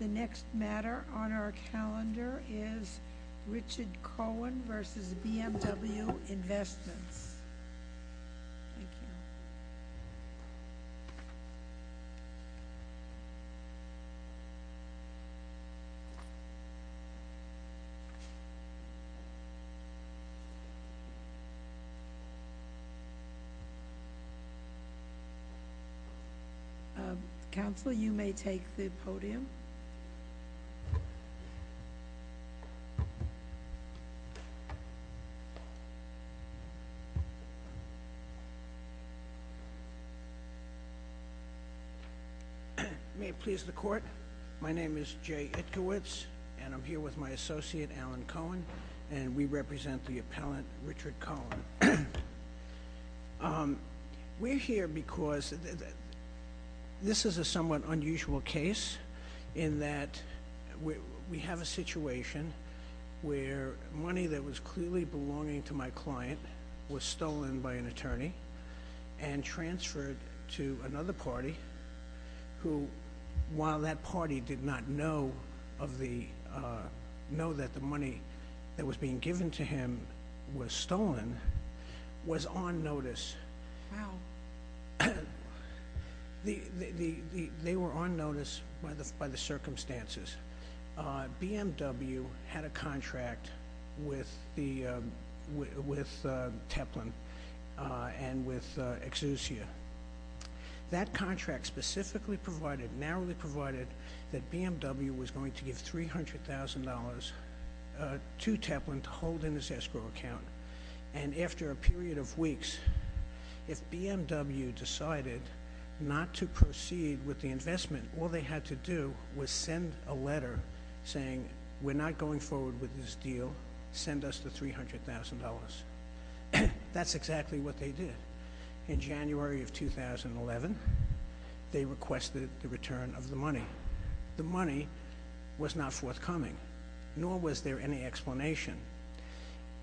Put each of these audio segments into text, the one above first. The next matter on our calendar is Richard Cohen v. BMW Investments. Thank you. Counsel, you may take the podium. May it please the Court, my name is Jay Itkowitz, and I'm here with my associate Alan Cohen, and we represent the appellant Richard Cohen. We're here because this is a somewhat unusual case in that we have a situation where money that was clearly belonging to my client was stolen by an attorney and transferred to another party, who, while that party did not know that the money that was being given to him was stolen, was on notice. Wow. They were on notice by the circumstances. BMW had a contract with Teplin and with Exucia. That contract specifically provided, narrowly provided, that BMW was going to give $300,000 to Teplin to hold in his escrow account. And after a period of weeks, if BMW decided not to proceed with the investment, all they had to do was send a letter saying, we're not going forward with this deal, send us the $300,000. That's exactly what they did. In January of 2011, they requested the return of the money. The money was not forthcoming, nor was there any explanation.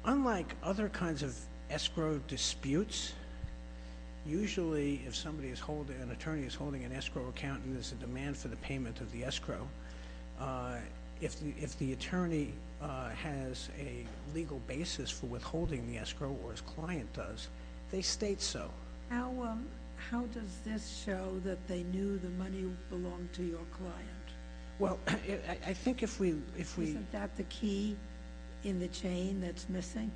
Unlike other kinds of escrow disputes, usually if an attorney is holding an escrow account and there's a demand for the payment of the escrow, if the attorney has a legal basis for withholding the escrow, or his client does, they state so. How does this show that they knew the money belonged to your client? Isn't that the key in the chain that's missing?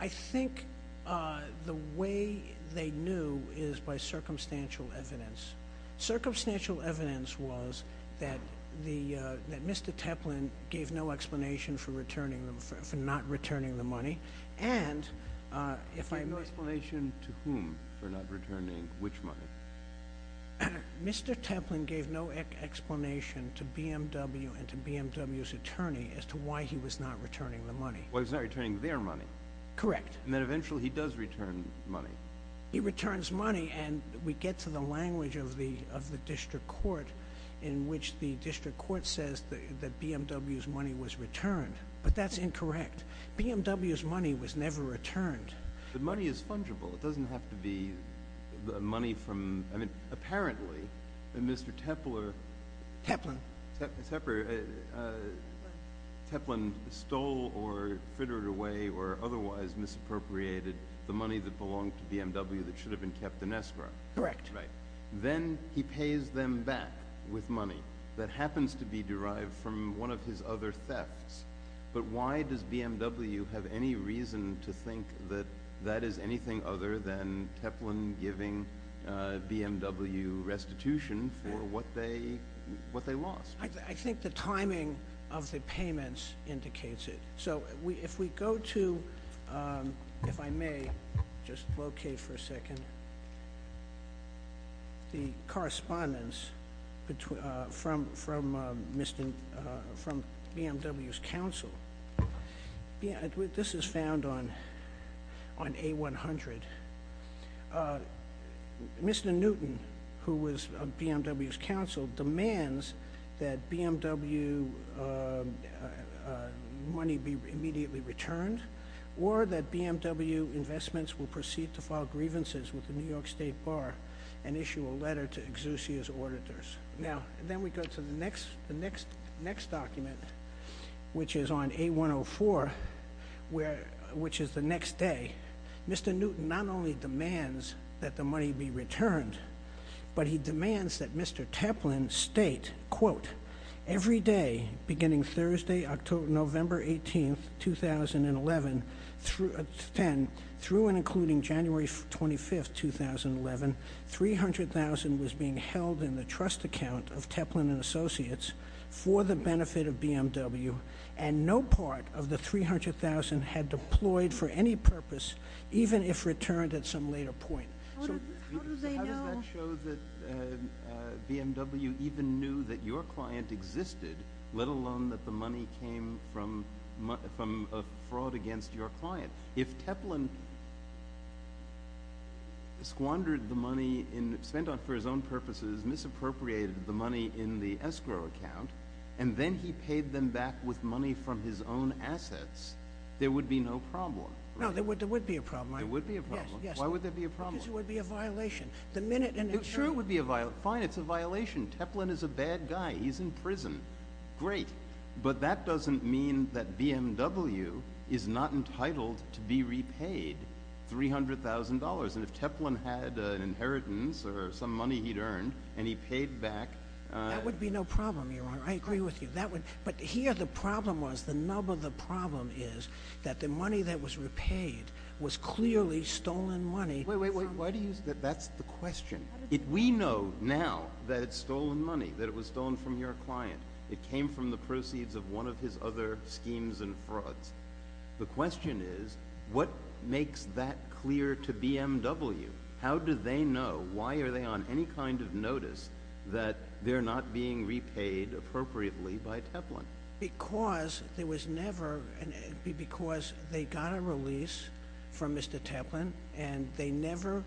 I think the way they knew is by circumstantial evidence. Circumstantial evidence was that Mr. Teplin gave no explanation for not returning the money. No explanation to whom for not returning which money? Mr. Teplin gave no explanation to BMW and to BMW's attorney as to why he was not returning the money. Well, he's not returning their money. Correct. And then eventually he does return money. He returns money, and we get to the language of the district court in which the district court says that BMW's money was returned. But that's incorrect. BMW's money was never returned. The money is fungible. It doesn't have to be money from – I mean, apparently, Mr. Tepler… Teplin. Teplin stole or frittered away or otherwise misappropriated the money that belonged to BMW that should have been kept in escrow. Correct. Then he pays them back with money that happens to be derived from one of his other thefts. But why does BMW have any reason to think that that is anything other than Teplin giving BMW restitution for what they lost? I think the timing of the payments indicates it. So if we go to – if I may, just locate for a second the correspondence from BMW's counsel. This is found on A100. Mr. Newton, who was BMW's counsel, demands that BMW money be immediately returned or that BMW Investments will proceed to file grievances with the New York State Bar and issue a letter to Exusia's auditors. Now, then we go to the next document, which is on A104, which is the next day. Mr. Newton not only demands that the money be returned, but he demands that Mr. Teplin state, quote, every day beginning Thursday, November 18, 2010 through and including January 25, 2011, $300,000 was being held in the trust account of Teplin & Associates for the benefit of BMW and no part of the $300,000 had deployed for any purpose, even if returned at some later point. So how does that show that BMW even knew that your client existed, let alone that the money came from a fraud against your client? If Teplin squandered the money spent for his own purposes, misappropriated the money in the escrow account, and then he paid them back with money from his own assets, there would be no problem. No, there would be a problem. There would be a problem. Yes, yes. Why would there be a problem? Because it would be a violation. Sure, it would be a violation. Fine, it's a violation. Teplin is a bad guy. He's in prison. Great. But that doesn't mean that BMW is not entitled to be repaid $300,000. And if Teplin had an inheritance or some money he'd earned and he paid back— That would be no problem, Your Honor. I agree with you. But here the problem was, the nub of the problem is that the money that was repaid was clearly stolen money— Wait, wait, wait. Why do you—that's the question. We know now that it's stolen money, that it was stolen from your client. It came from the proceeds of one of his other schemes and frauds. The question is, what makes that clear to BMW? How do they know? Why are they on any kind of notice that they're not being repaid appropriately by Teplin? Because there was never—because they got a release from Mr. Teplin, and they never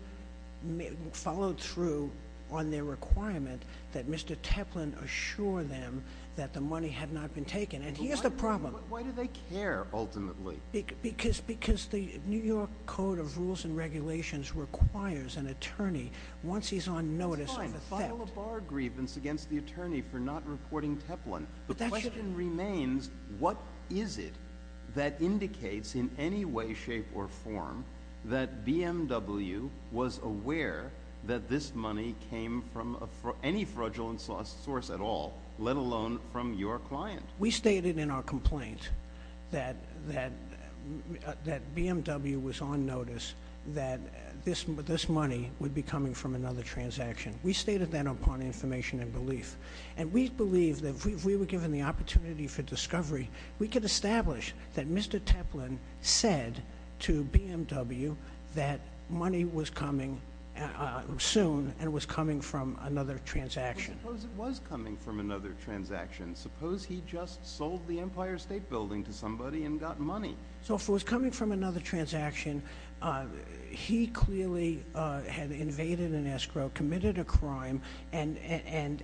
followed through on their requirement that Mr. Teplin assure them that the money had not been taken. And here's the problem. Why do they care, ultimately? Because the New York Code of Rules and Regulations requires an attorney, once he's on notice— It's fine. File a bar grievance against the attorney for not reporting Teplin. The question remains, what is it that indicates in any way, shape, or form, that BMW was aware that this money came from any fraudulent source at all, let alone from your client? We stated in our complaint that BMW was on notice that this money would be coming from another transaction. We stated that upon information and belief. And we believe that if we were given the opportunity for discovery, we could establish that Mr. Teplin said to BMW that money was coming soon and was coming from another transaction. Suppose it was coming from another transaction. Suppose he just sold the Empire State Building to somebody and got money. So if it was coming from another transaction, he clearly had invaded an escrow, committed a crime, and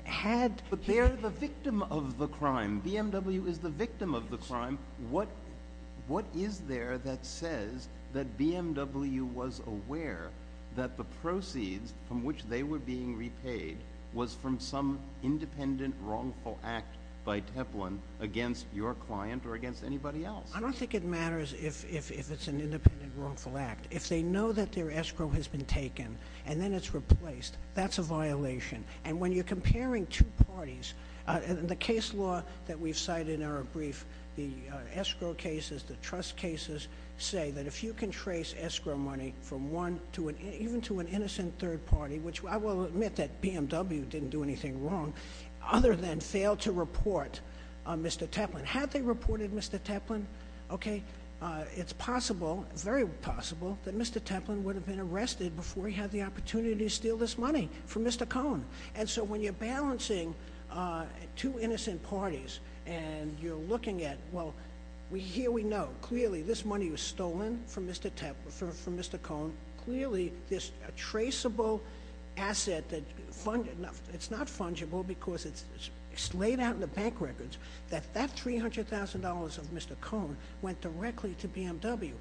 had— But they're the victim of the crime. BMW is the victim of the crime. What is there that says that BMW was aware that the proceeds from which they were being repaid was from some independent, wrongful act by Teplin against your client or against anybody else? I don't think it matters if it's an independent, wrongful act. If they know that their escrow has been taken and then it's replaced, that's a violation. And when you're comparing two parties, the case law that we've cited in our brief, the escrow cases, the trust cases, say that if you can trace escrow money from one to an—even to an innocent third party, which I will admit that BMW didn't do anything wrong other than fail to report Mr. Teplin. Had they reported Mr. Teplin, okay, it's possible, very possible, that Mr. Teplin would have been arrested before he had the opportunity to steal this money from Mr. Cohn. And so when you're balancing two innocent parties and you're looking at, well, here we know, clearly this money was stolen from Mr. Cohn, clearly this traceable asset that— it's not fungible because it's laid out in the bank records that that $300,000 of Mr. Cohn went directly to BMW.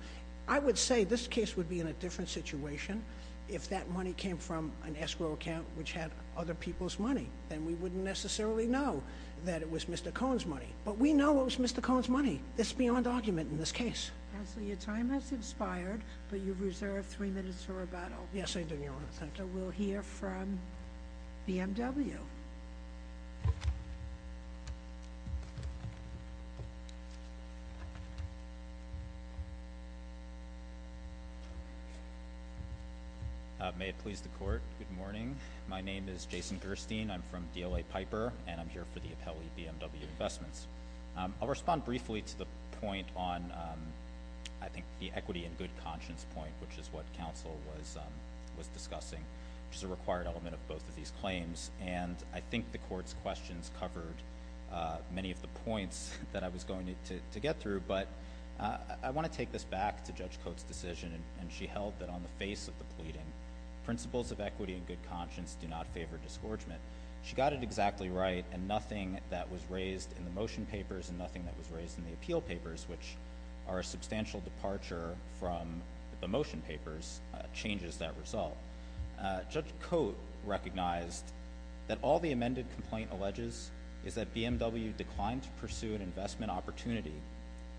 I would say this case would be in a different situation if that money came from an escrow account which had other people's money, then we wouldn't necessarily know that it was Mr. Cohn's money. But we know it was Mr. Cohn's money. It's beyond argument in this case. Counsel, your time has expired, but you've reserved three minutes for rebuttal. Yes, I do, Your Honor. Thank you. We'll hear from BMW. May it please the Court, good morning. My name is Jason Gerstein. I'm from DLA Piper, and I'm here for the appellee BMW Investments. I'll respond briefly to the point on, I think, the equity and good conscience point, which is what counsel was discussing, which is a required element of both of these claims. And I think the Court's questions covered many of the points that I was going to get through, but I want to take this back to Judge Coates' decision, and she held that on the face of the pleading, principles of equity and good conscience do not favor disgorgement. She got it exactly right, and nothing that was raised in the motion papers and nothing that was raised in the appeal papers, which are a substantial departure from the motion papers, changes that result. Judge Coates recognized that all the amended complaint alleges is that BMW declined to pursue an investment opportunity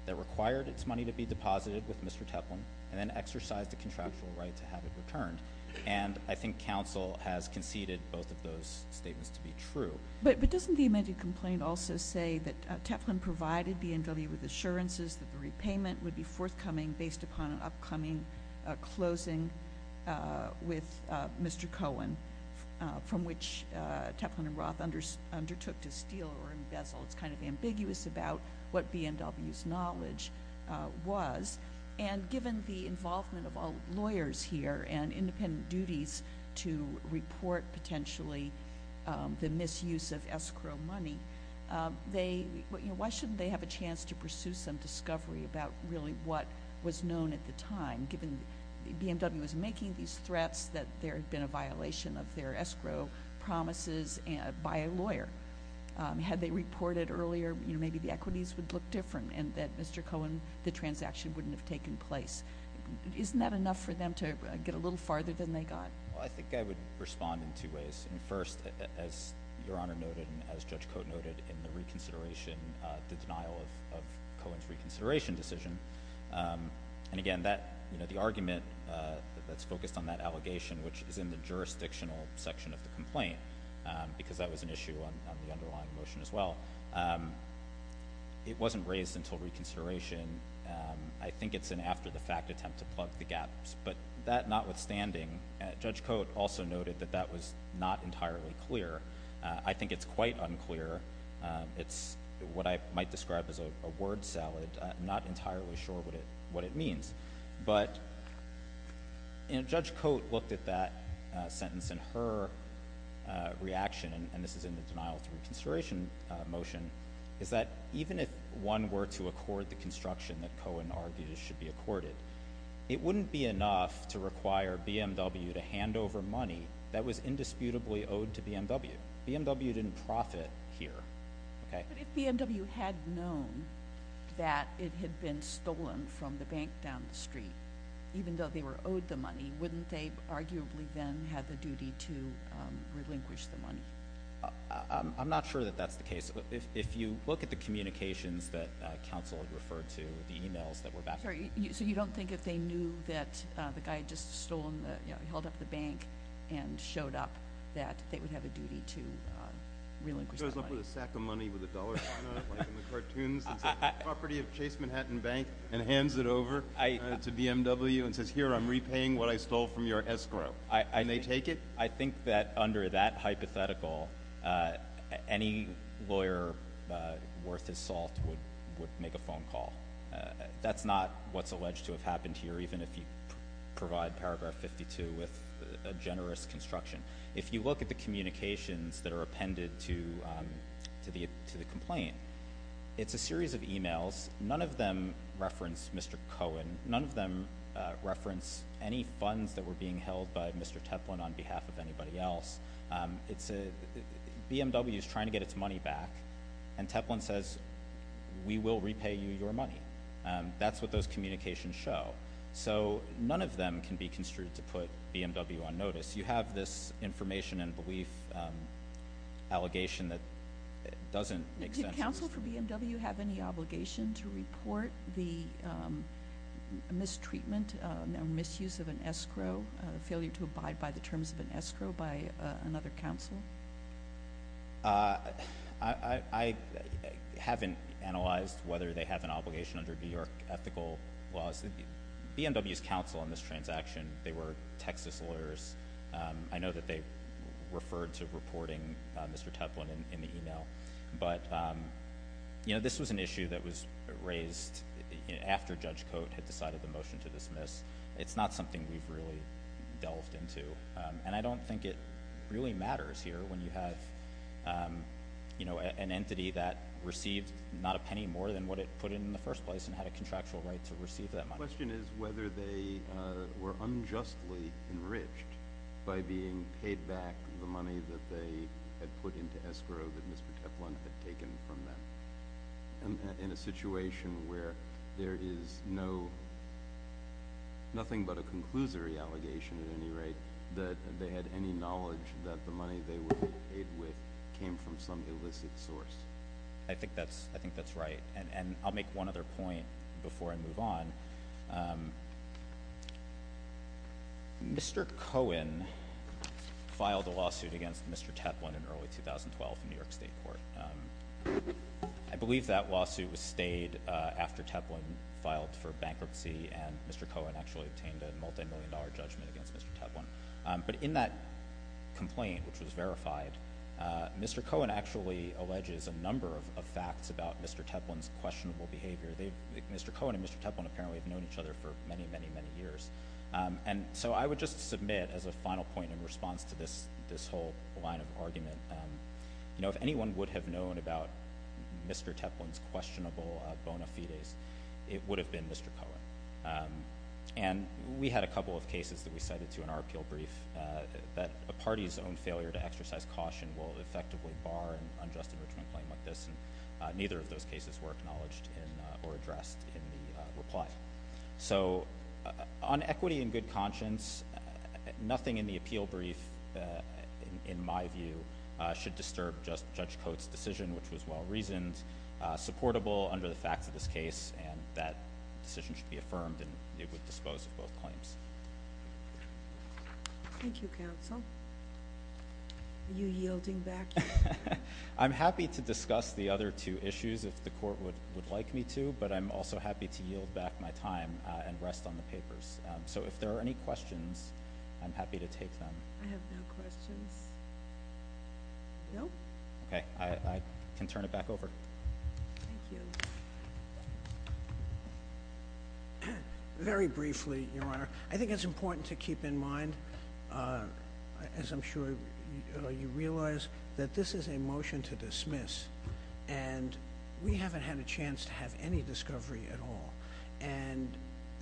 that required its money to be deposited with Mr. Teplin and then exercised a contractual right to have it returned. And I think counsel has conceded both of those statements to be true. But doesn't the amended complaint also say that Teplin provided BMW with assurances that the repayment would be forthcoming based upon an upcoming closing with Mr. Cohen, from which Teplin and Roth undertook to steal or embezzle? It's kind of ambiguous about what BMW's knowledge was. And given the involvement of all lawyers here and independent duties to report potentially the misuse of escrow money, why shouldn't they have a chance to pursue some discovery about really what was known at the time, given BMW was making these threats that there had been a violation of their escrow promises by a lawyer? Had they reported earlier, you know, maybe the equities would look different and that Mr. Cohen, the transaction wouldn't have taken place. Isn't that enough for them to get a little farther than they got? Well, I think I would respond in two ways. First, as Your Honor noted and as Judge Coates noted in the reconsideration, the denial of Cohen's reconsideration decision, and again, the argument that's focused on that allegation, which is in the jurisdictional section of the complaint, because that was an issue on the underlying motion as well, it wasn't raised until reconsideration. I think it's an after-the-fact attempt to plug the gaps. But that notwithstanding, Judge Coates also noted that that was not entirely clear. I think it's quite unclear. It's what I might describe as a word salad. I'm not entirely sure what it means. But Judge Coates looked at that sentence and her reaction, and this is in the denial of reconsideration motion, is that even if one were to accord the construction that Cohen argued should be accorded, it wouldn't be enough to require BMW to hand over money that was indisputably owed to BMW. BMW didn't profit here. But if BMW had known that it had been stolen from the bank down the street, even though they were owed the money, wouldn't they arguably then have the duty to relinquish the money? I'm not sure that that's the case. If you look at the communications that counsel referred to, the e-mails that were backfired. So you don't think if they knew that the guy had just stolen, held up the bank and showed up, that they would have a duty to relinquish that money? They put a sack of money with a dollar sign on it, like in the cartoons, and say the property of Chase Manhattan Bank, and hands it over to BMW and says, here, I'm repaying what I stole from your escrow. Can they take it? I think that under that hypothetical, any lawyer worth his salt would make a phone call. That's not what's alleged to have happened here, even if you provide paragraph 52 with a generous construction. If you look at the communications that are appended to the complaint, it's a series of e-mails. None of them reference Mr. Cohen. None of them reference any funds that were being held by Mr. Teplin on behalf of anybody else. BMW is trying to get its money back, and Teplin says, we will repay you your money. That's what those communications show. So none of them can be construed to put BMW on notice. You have this information and belief allegation that doesn't make sense. Did counsel for BMW have any obligation to report the mistreatment or misuse of an escrow, failure to abide by the terms of an escrow by another counsel? I haven't analyzed whether they have an obligation under New York ethical laws. BMW's counsel on this transaction, they were Texas lawyers. I know that they referred to reporting Mr. Teplin in the e-mail. But, you know, this was an issue that was raised after Judge Coate had decided the motion to dismiss. It's not something we've really delved into. And I don't think it really matters here when you have, you know, an entity that received not a penny more than what it put in in the first place and had a contractual right to receive that money. The question is whether they were unjustly enriched by being paid back the money that they had put into escrow that Mr. Teplin had taken from them. In a situation where there is nothing but a conclusory allegation, at any rate, that they had any knowledge that the money they were paid with came from some illicit source. I think that's right. And I'll make one other point before I move on. Mr. Cohen filed a lawsuit against Mr. Teplin in early 2012 in New York State Court. I believe that lawsuit was stayed after Teplin filed for bankruptcy and Mr. Cohen actually obtained a multimillion dollar judgment against Mr. Teplin. But in that complaint, which was verified, Mr. Cohen actually alleges a number of facts about Mr. Teplin's questionable behavior. Mr. Cohen and Mr. Teplin apparently have known each other for many, many, many years. And so I would just submit as a final point in response to this whole line of argument, you know, if anyone would have known about Mr. Teplin's questionable bona fides, it would have been Mr. Cohen. And we had a couple of cases that we cited to in our appeal brief that a party's own failure to exercise caution will effectively bar an unjust enrichment claim like this, and neither of those cases were acknowledged or addressed in the reply. So on equity and good conscience, nothing in the appeal brief, in my view, should disturb Judge Coates' decision, which was well-reasoned, supportable under the facts of this case, and that decision should be affirmed and it would dispose of both claims. Thank you, counsel. Are you yielding back? I'm happy to discuss the other two issues if the court would like me to, but I'm also happy to yield back my time and rest on the papers. So if there are any questions, I'm happy to take them. I have no questions. No? Okay. I can turn it back over. Thank you. Very briefly, Your Honor, I think it's important to keep in mind, as I'm sure you realize, that this is a motion to dismiss, and we haven't had a chance to have any discovery at all. And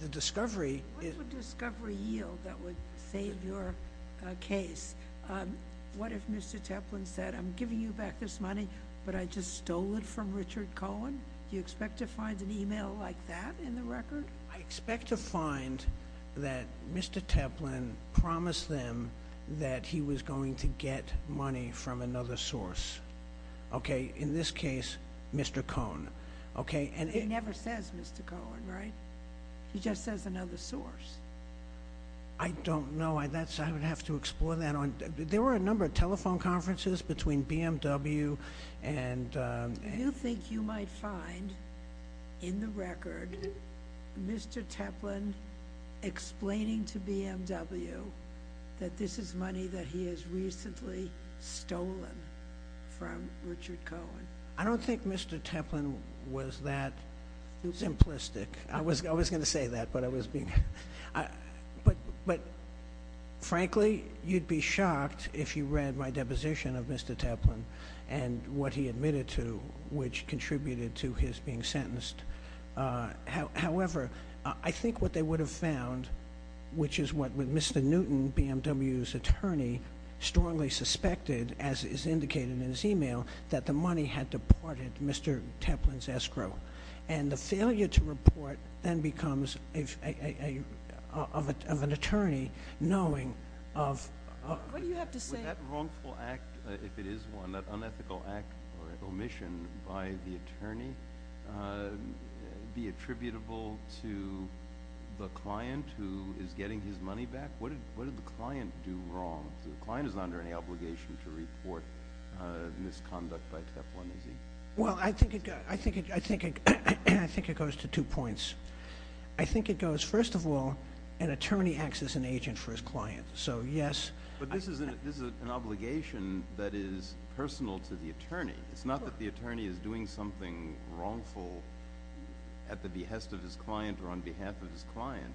the discovery is What would discovery yield that would save your case? What if Mr. Teplin said, I'm giving you back this money, but I just stole it from Richard Cohen? Do you expect to find an email like that in the record? I expect to find that Mr. Teplin promised them that he was going to get money from another source. Okay? In this case, Mr. Cohen. Okay? It never says Mr. Cohen, right? He just says another source. I don't know. I would have to explore that. There were a number of telephone conferences between BMW and Do you think you might find in the record Mr. Teplin explaining to BMW that this is money that he has recently stolen from Richard Cohen? I don't think Mr. Teplin was that simplistic. I was going to say that, but I was being But, frankly, you'd be shocked if you read my deposition of Mr. Teplin and what he admitted to, which contributed to his being sentenced. However, I think what they would have found, which is what Mr. Newton, BMW's attorney, strongly suspected, as is indicated in his email, that the money had deported Mr. Teplin's escrow. And the failure to report then becomes of an attorney knowing of What do you have to say? Would that wrongful act, if it is one, that unethical act or omission by the attorney, be attributable to the client who is getting his money back? What did the client do wrong? The client is not under any obligation to report misconduct by Teplin, is he? Well, I think it goes to two points. I think it goes, first of all, an attorney acts as an agent for his client. But this is an obligation that is personal to the attorney. It's not that the attorney is doing something wrongful at the behest of his client or on behalf of his client.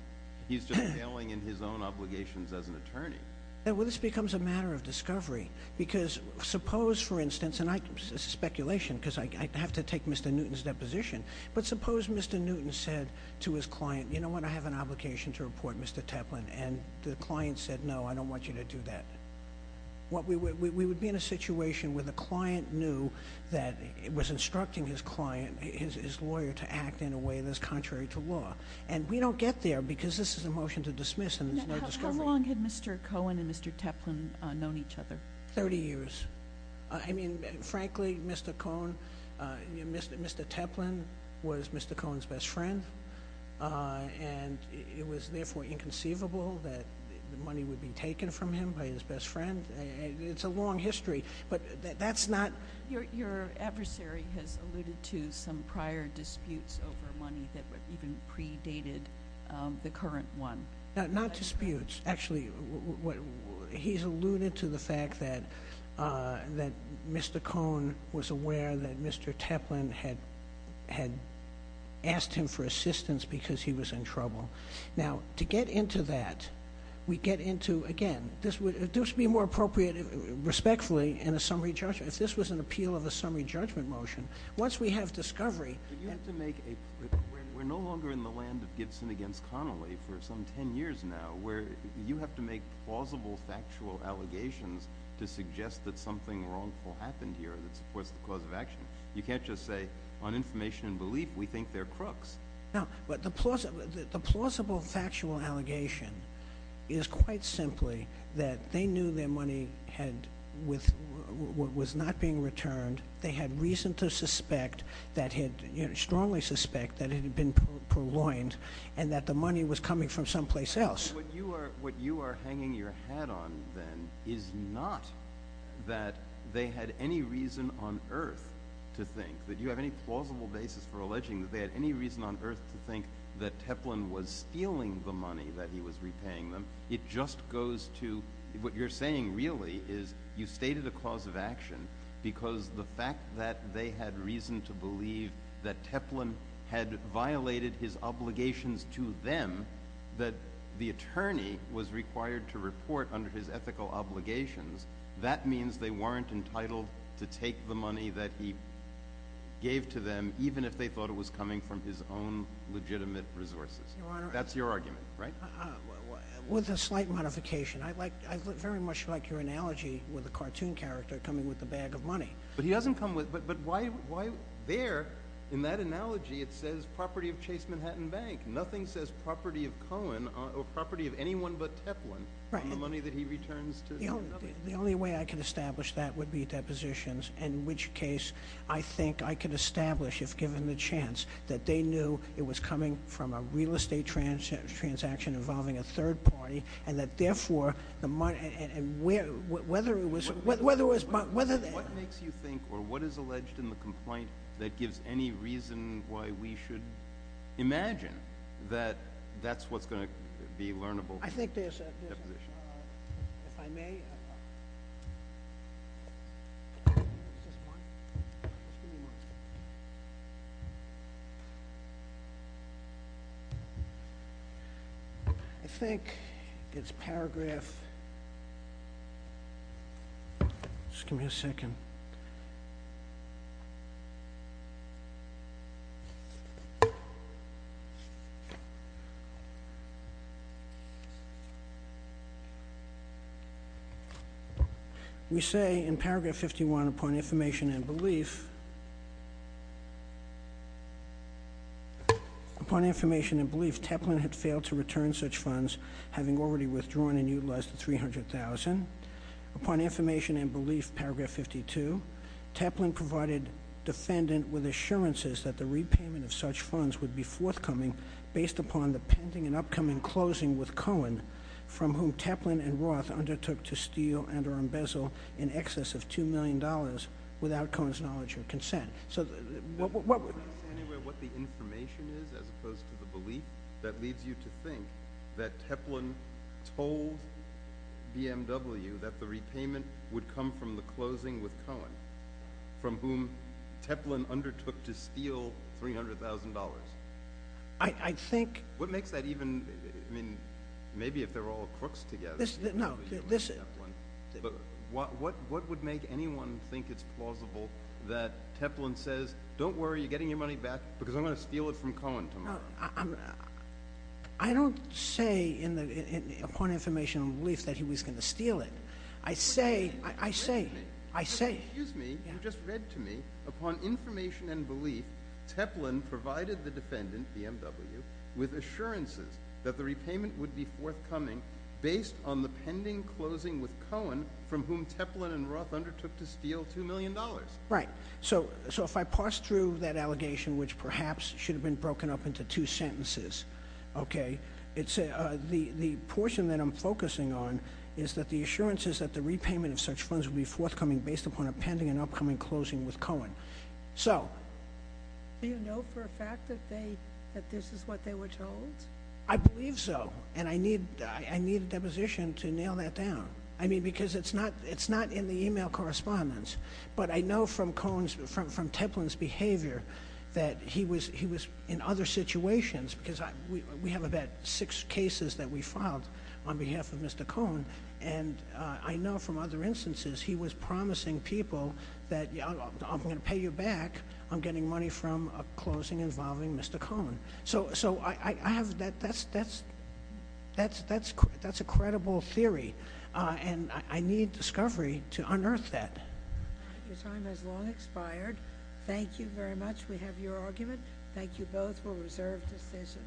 He's just veiling in his own obligations as an attorney. Well, this becomes a matter of discovery. Because suppose, for instance, and this is speculation because I have to take Mr. Newton's deposition. But suppose Mr. Newton said to his client, you know what, I have an obligation to report Mr. Teplin. And the client said, no, I don't want you to do that. We would be in a situation where the client knew that it was instructing his client, his lawyer, to act in a way that is contrary to law. And we don't get there because this is a motion to dismiss and there's no discovery. How long had Mr. Cohen and Mr. Teplin known each other? Thirty years. I mean, frankly, Mr. Cohen, Mr. Teplin was Mr. Cohen's best friend. And it was, therefore, inconceivable that the money would be taken from him by his best friend. It's a long history. But that's not. Your adversary has alluded to some prior disputes over money that even predated the current one. Not disputes. Actually, he's alluded to the fact that Mr. Cohen was aware that Mr. Teplin had asked him for assistance because he was in trouble. Now, to get into that, we get into, again, this would be more appropriate, respectfully, in a summary judgment. If this was an appeal of a summary judgment motion, once we have discovery. We're no longer in the land of Gibson against Connolly for some ten years now where you have to make plausible factual allegations to suggest that something wrongful happened here that supports the cause of action. You can't just say, on information and belief, we think they're crooks. The plausible factual allegation is quite simply that they knew their money was not being returned. They had reason to suspect, strongly suspect, that it had been purloined and that the money was coming from someplace else. What you are hanging your hat on, then, is not that they had any reason on earth to think, that you have any plausible basis for alleging that they had any reason on earth to think that Teplin was stealing the money that he was repaying them. It just goes to what you're saying, really, is you stated a cause of action because the fact that they had reason to believe that Teplin had violated his obligations to them, that the attorney was required to report under his ethical obligations. That means they weren't entitled to take the money that he gave to them, even if they thought it was coming from his own legitimate resources. That's your argument, right? With a slight modification. I very much like your analogy with a cartoon character coming with a bag of money. But he doesn't come with – but why there, in that analogy, it says property of Chase Manhattan Bank. Nothing says property of Cohen or property of anyone but Teplin on the money that he returns to another. The only way I can establish that would be depositions, in which case I think I can establish, if given the chance, that they knew it was coming from a real estate transaction involving a third party and that, therefore, the money – and whether it was – What makes you think or what is alleged in the complaint that gives any reason why we should imagine that that's what's going to be learnable? I think there's – if I may, I think it's paragraph – just give me a second. We say in paragraph 51, upon information and belief – upon information and belief, Teplin had failed to return such funds, having already withdrawn and utilized the $300,000. Upon information and belief, paragraph 52, Teplin provided defendant with assurances that the repayment of such funds would be forthcoming based upon the pending and upcoming closing with Cohen, from whom Teplin and Roth undertook to steal and or embezzle in excess of $2 million without Cohen's knowledge or consent. Can you say anywhere what the information is as opposed to the belief that leads you to think that Teplin told BMW that the repayment would come from the closing with Cohen, from whom Teplin undertook to steal $300,000? I think – What makes that even – I mean, maybe if they're all crooks together, BMW and Teplin. But what would make anyone think it's plausible that Teplin says, don't worry, you're getting your money back because I'm going to steal it from Cohen tomorrow? I don't say upon information and belief that he was going to steal it. I say – Excuse me. I say – Excuse me. You just read to me. Upon information and belief, Teplin provided the defendant, BMW, with assurances that the repayment would be forthcoming based on the pending closing with Cohen, from whom Teplin and Roth undertook to steal $2 million. Right. So if I parse through that allegation, which perhaps should have been broken up into two sentences, okay, the portion that I'm focusing on is that the assurance is that the repayment of such funds would be forthcoming based upon a pending and upcoming closing with Cohen. So – Do you know for a fact that this is what they were told? I believe so. And I need a deposition to nail that down. I mean, because it's not in the email correspondence. But I know from Cohen's – from Teplin's behavior that he was in other situations because we have about six cases that we filed on behalf of Mr. Cohen. And I know from other instances he was promising people that I'm going to pay you back on getting money from a closing involving Mr. Cohen. So I have – that's a credible theory. And I need discovery to unearth that. Your time has long expired. Thank you very much. We have your argument. Thank you both. We'll reserve decision.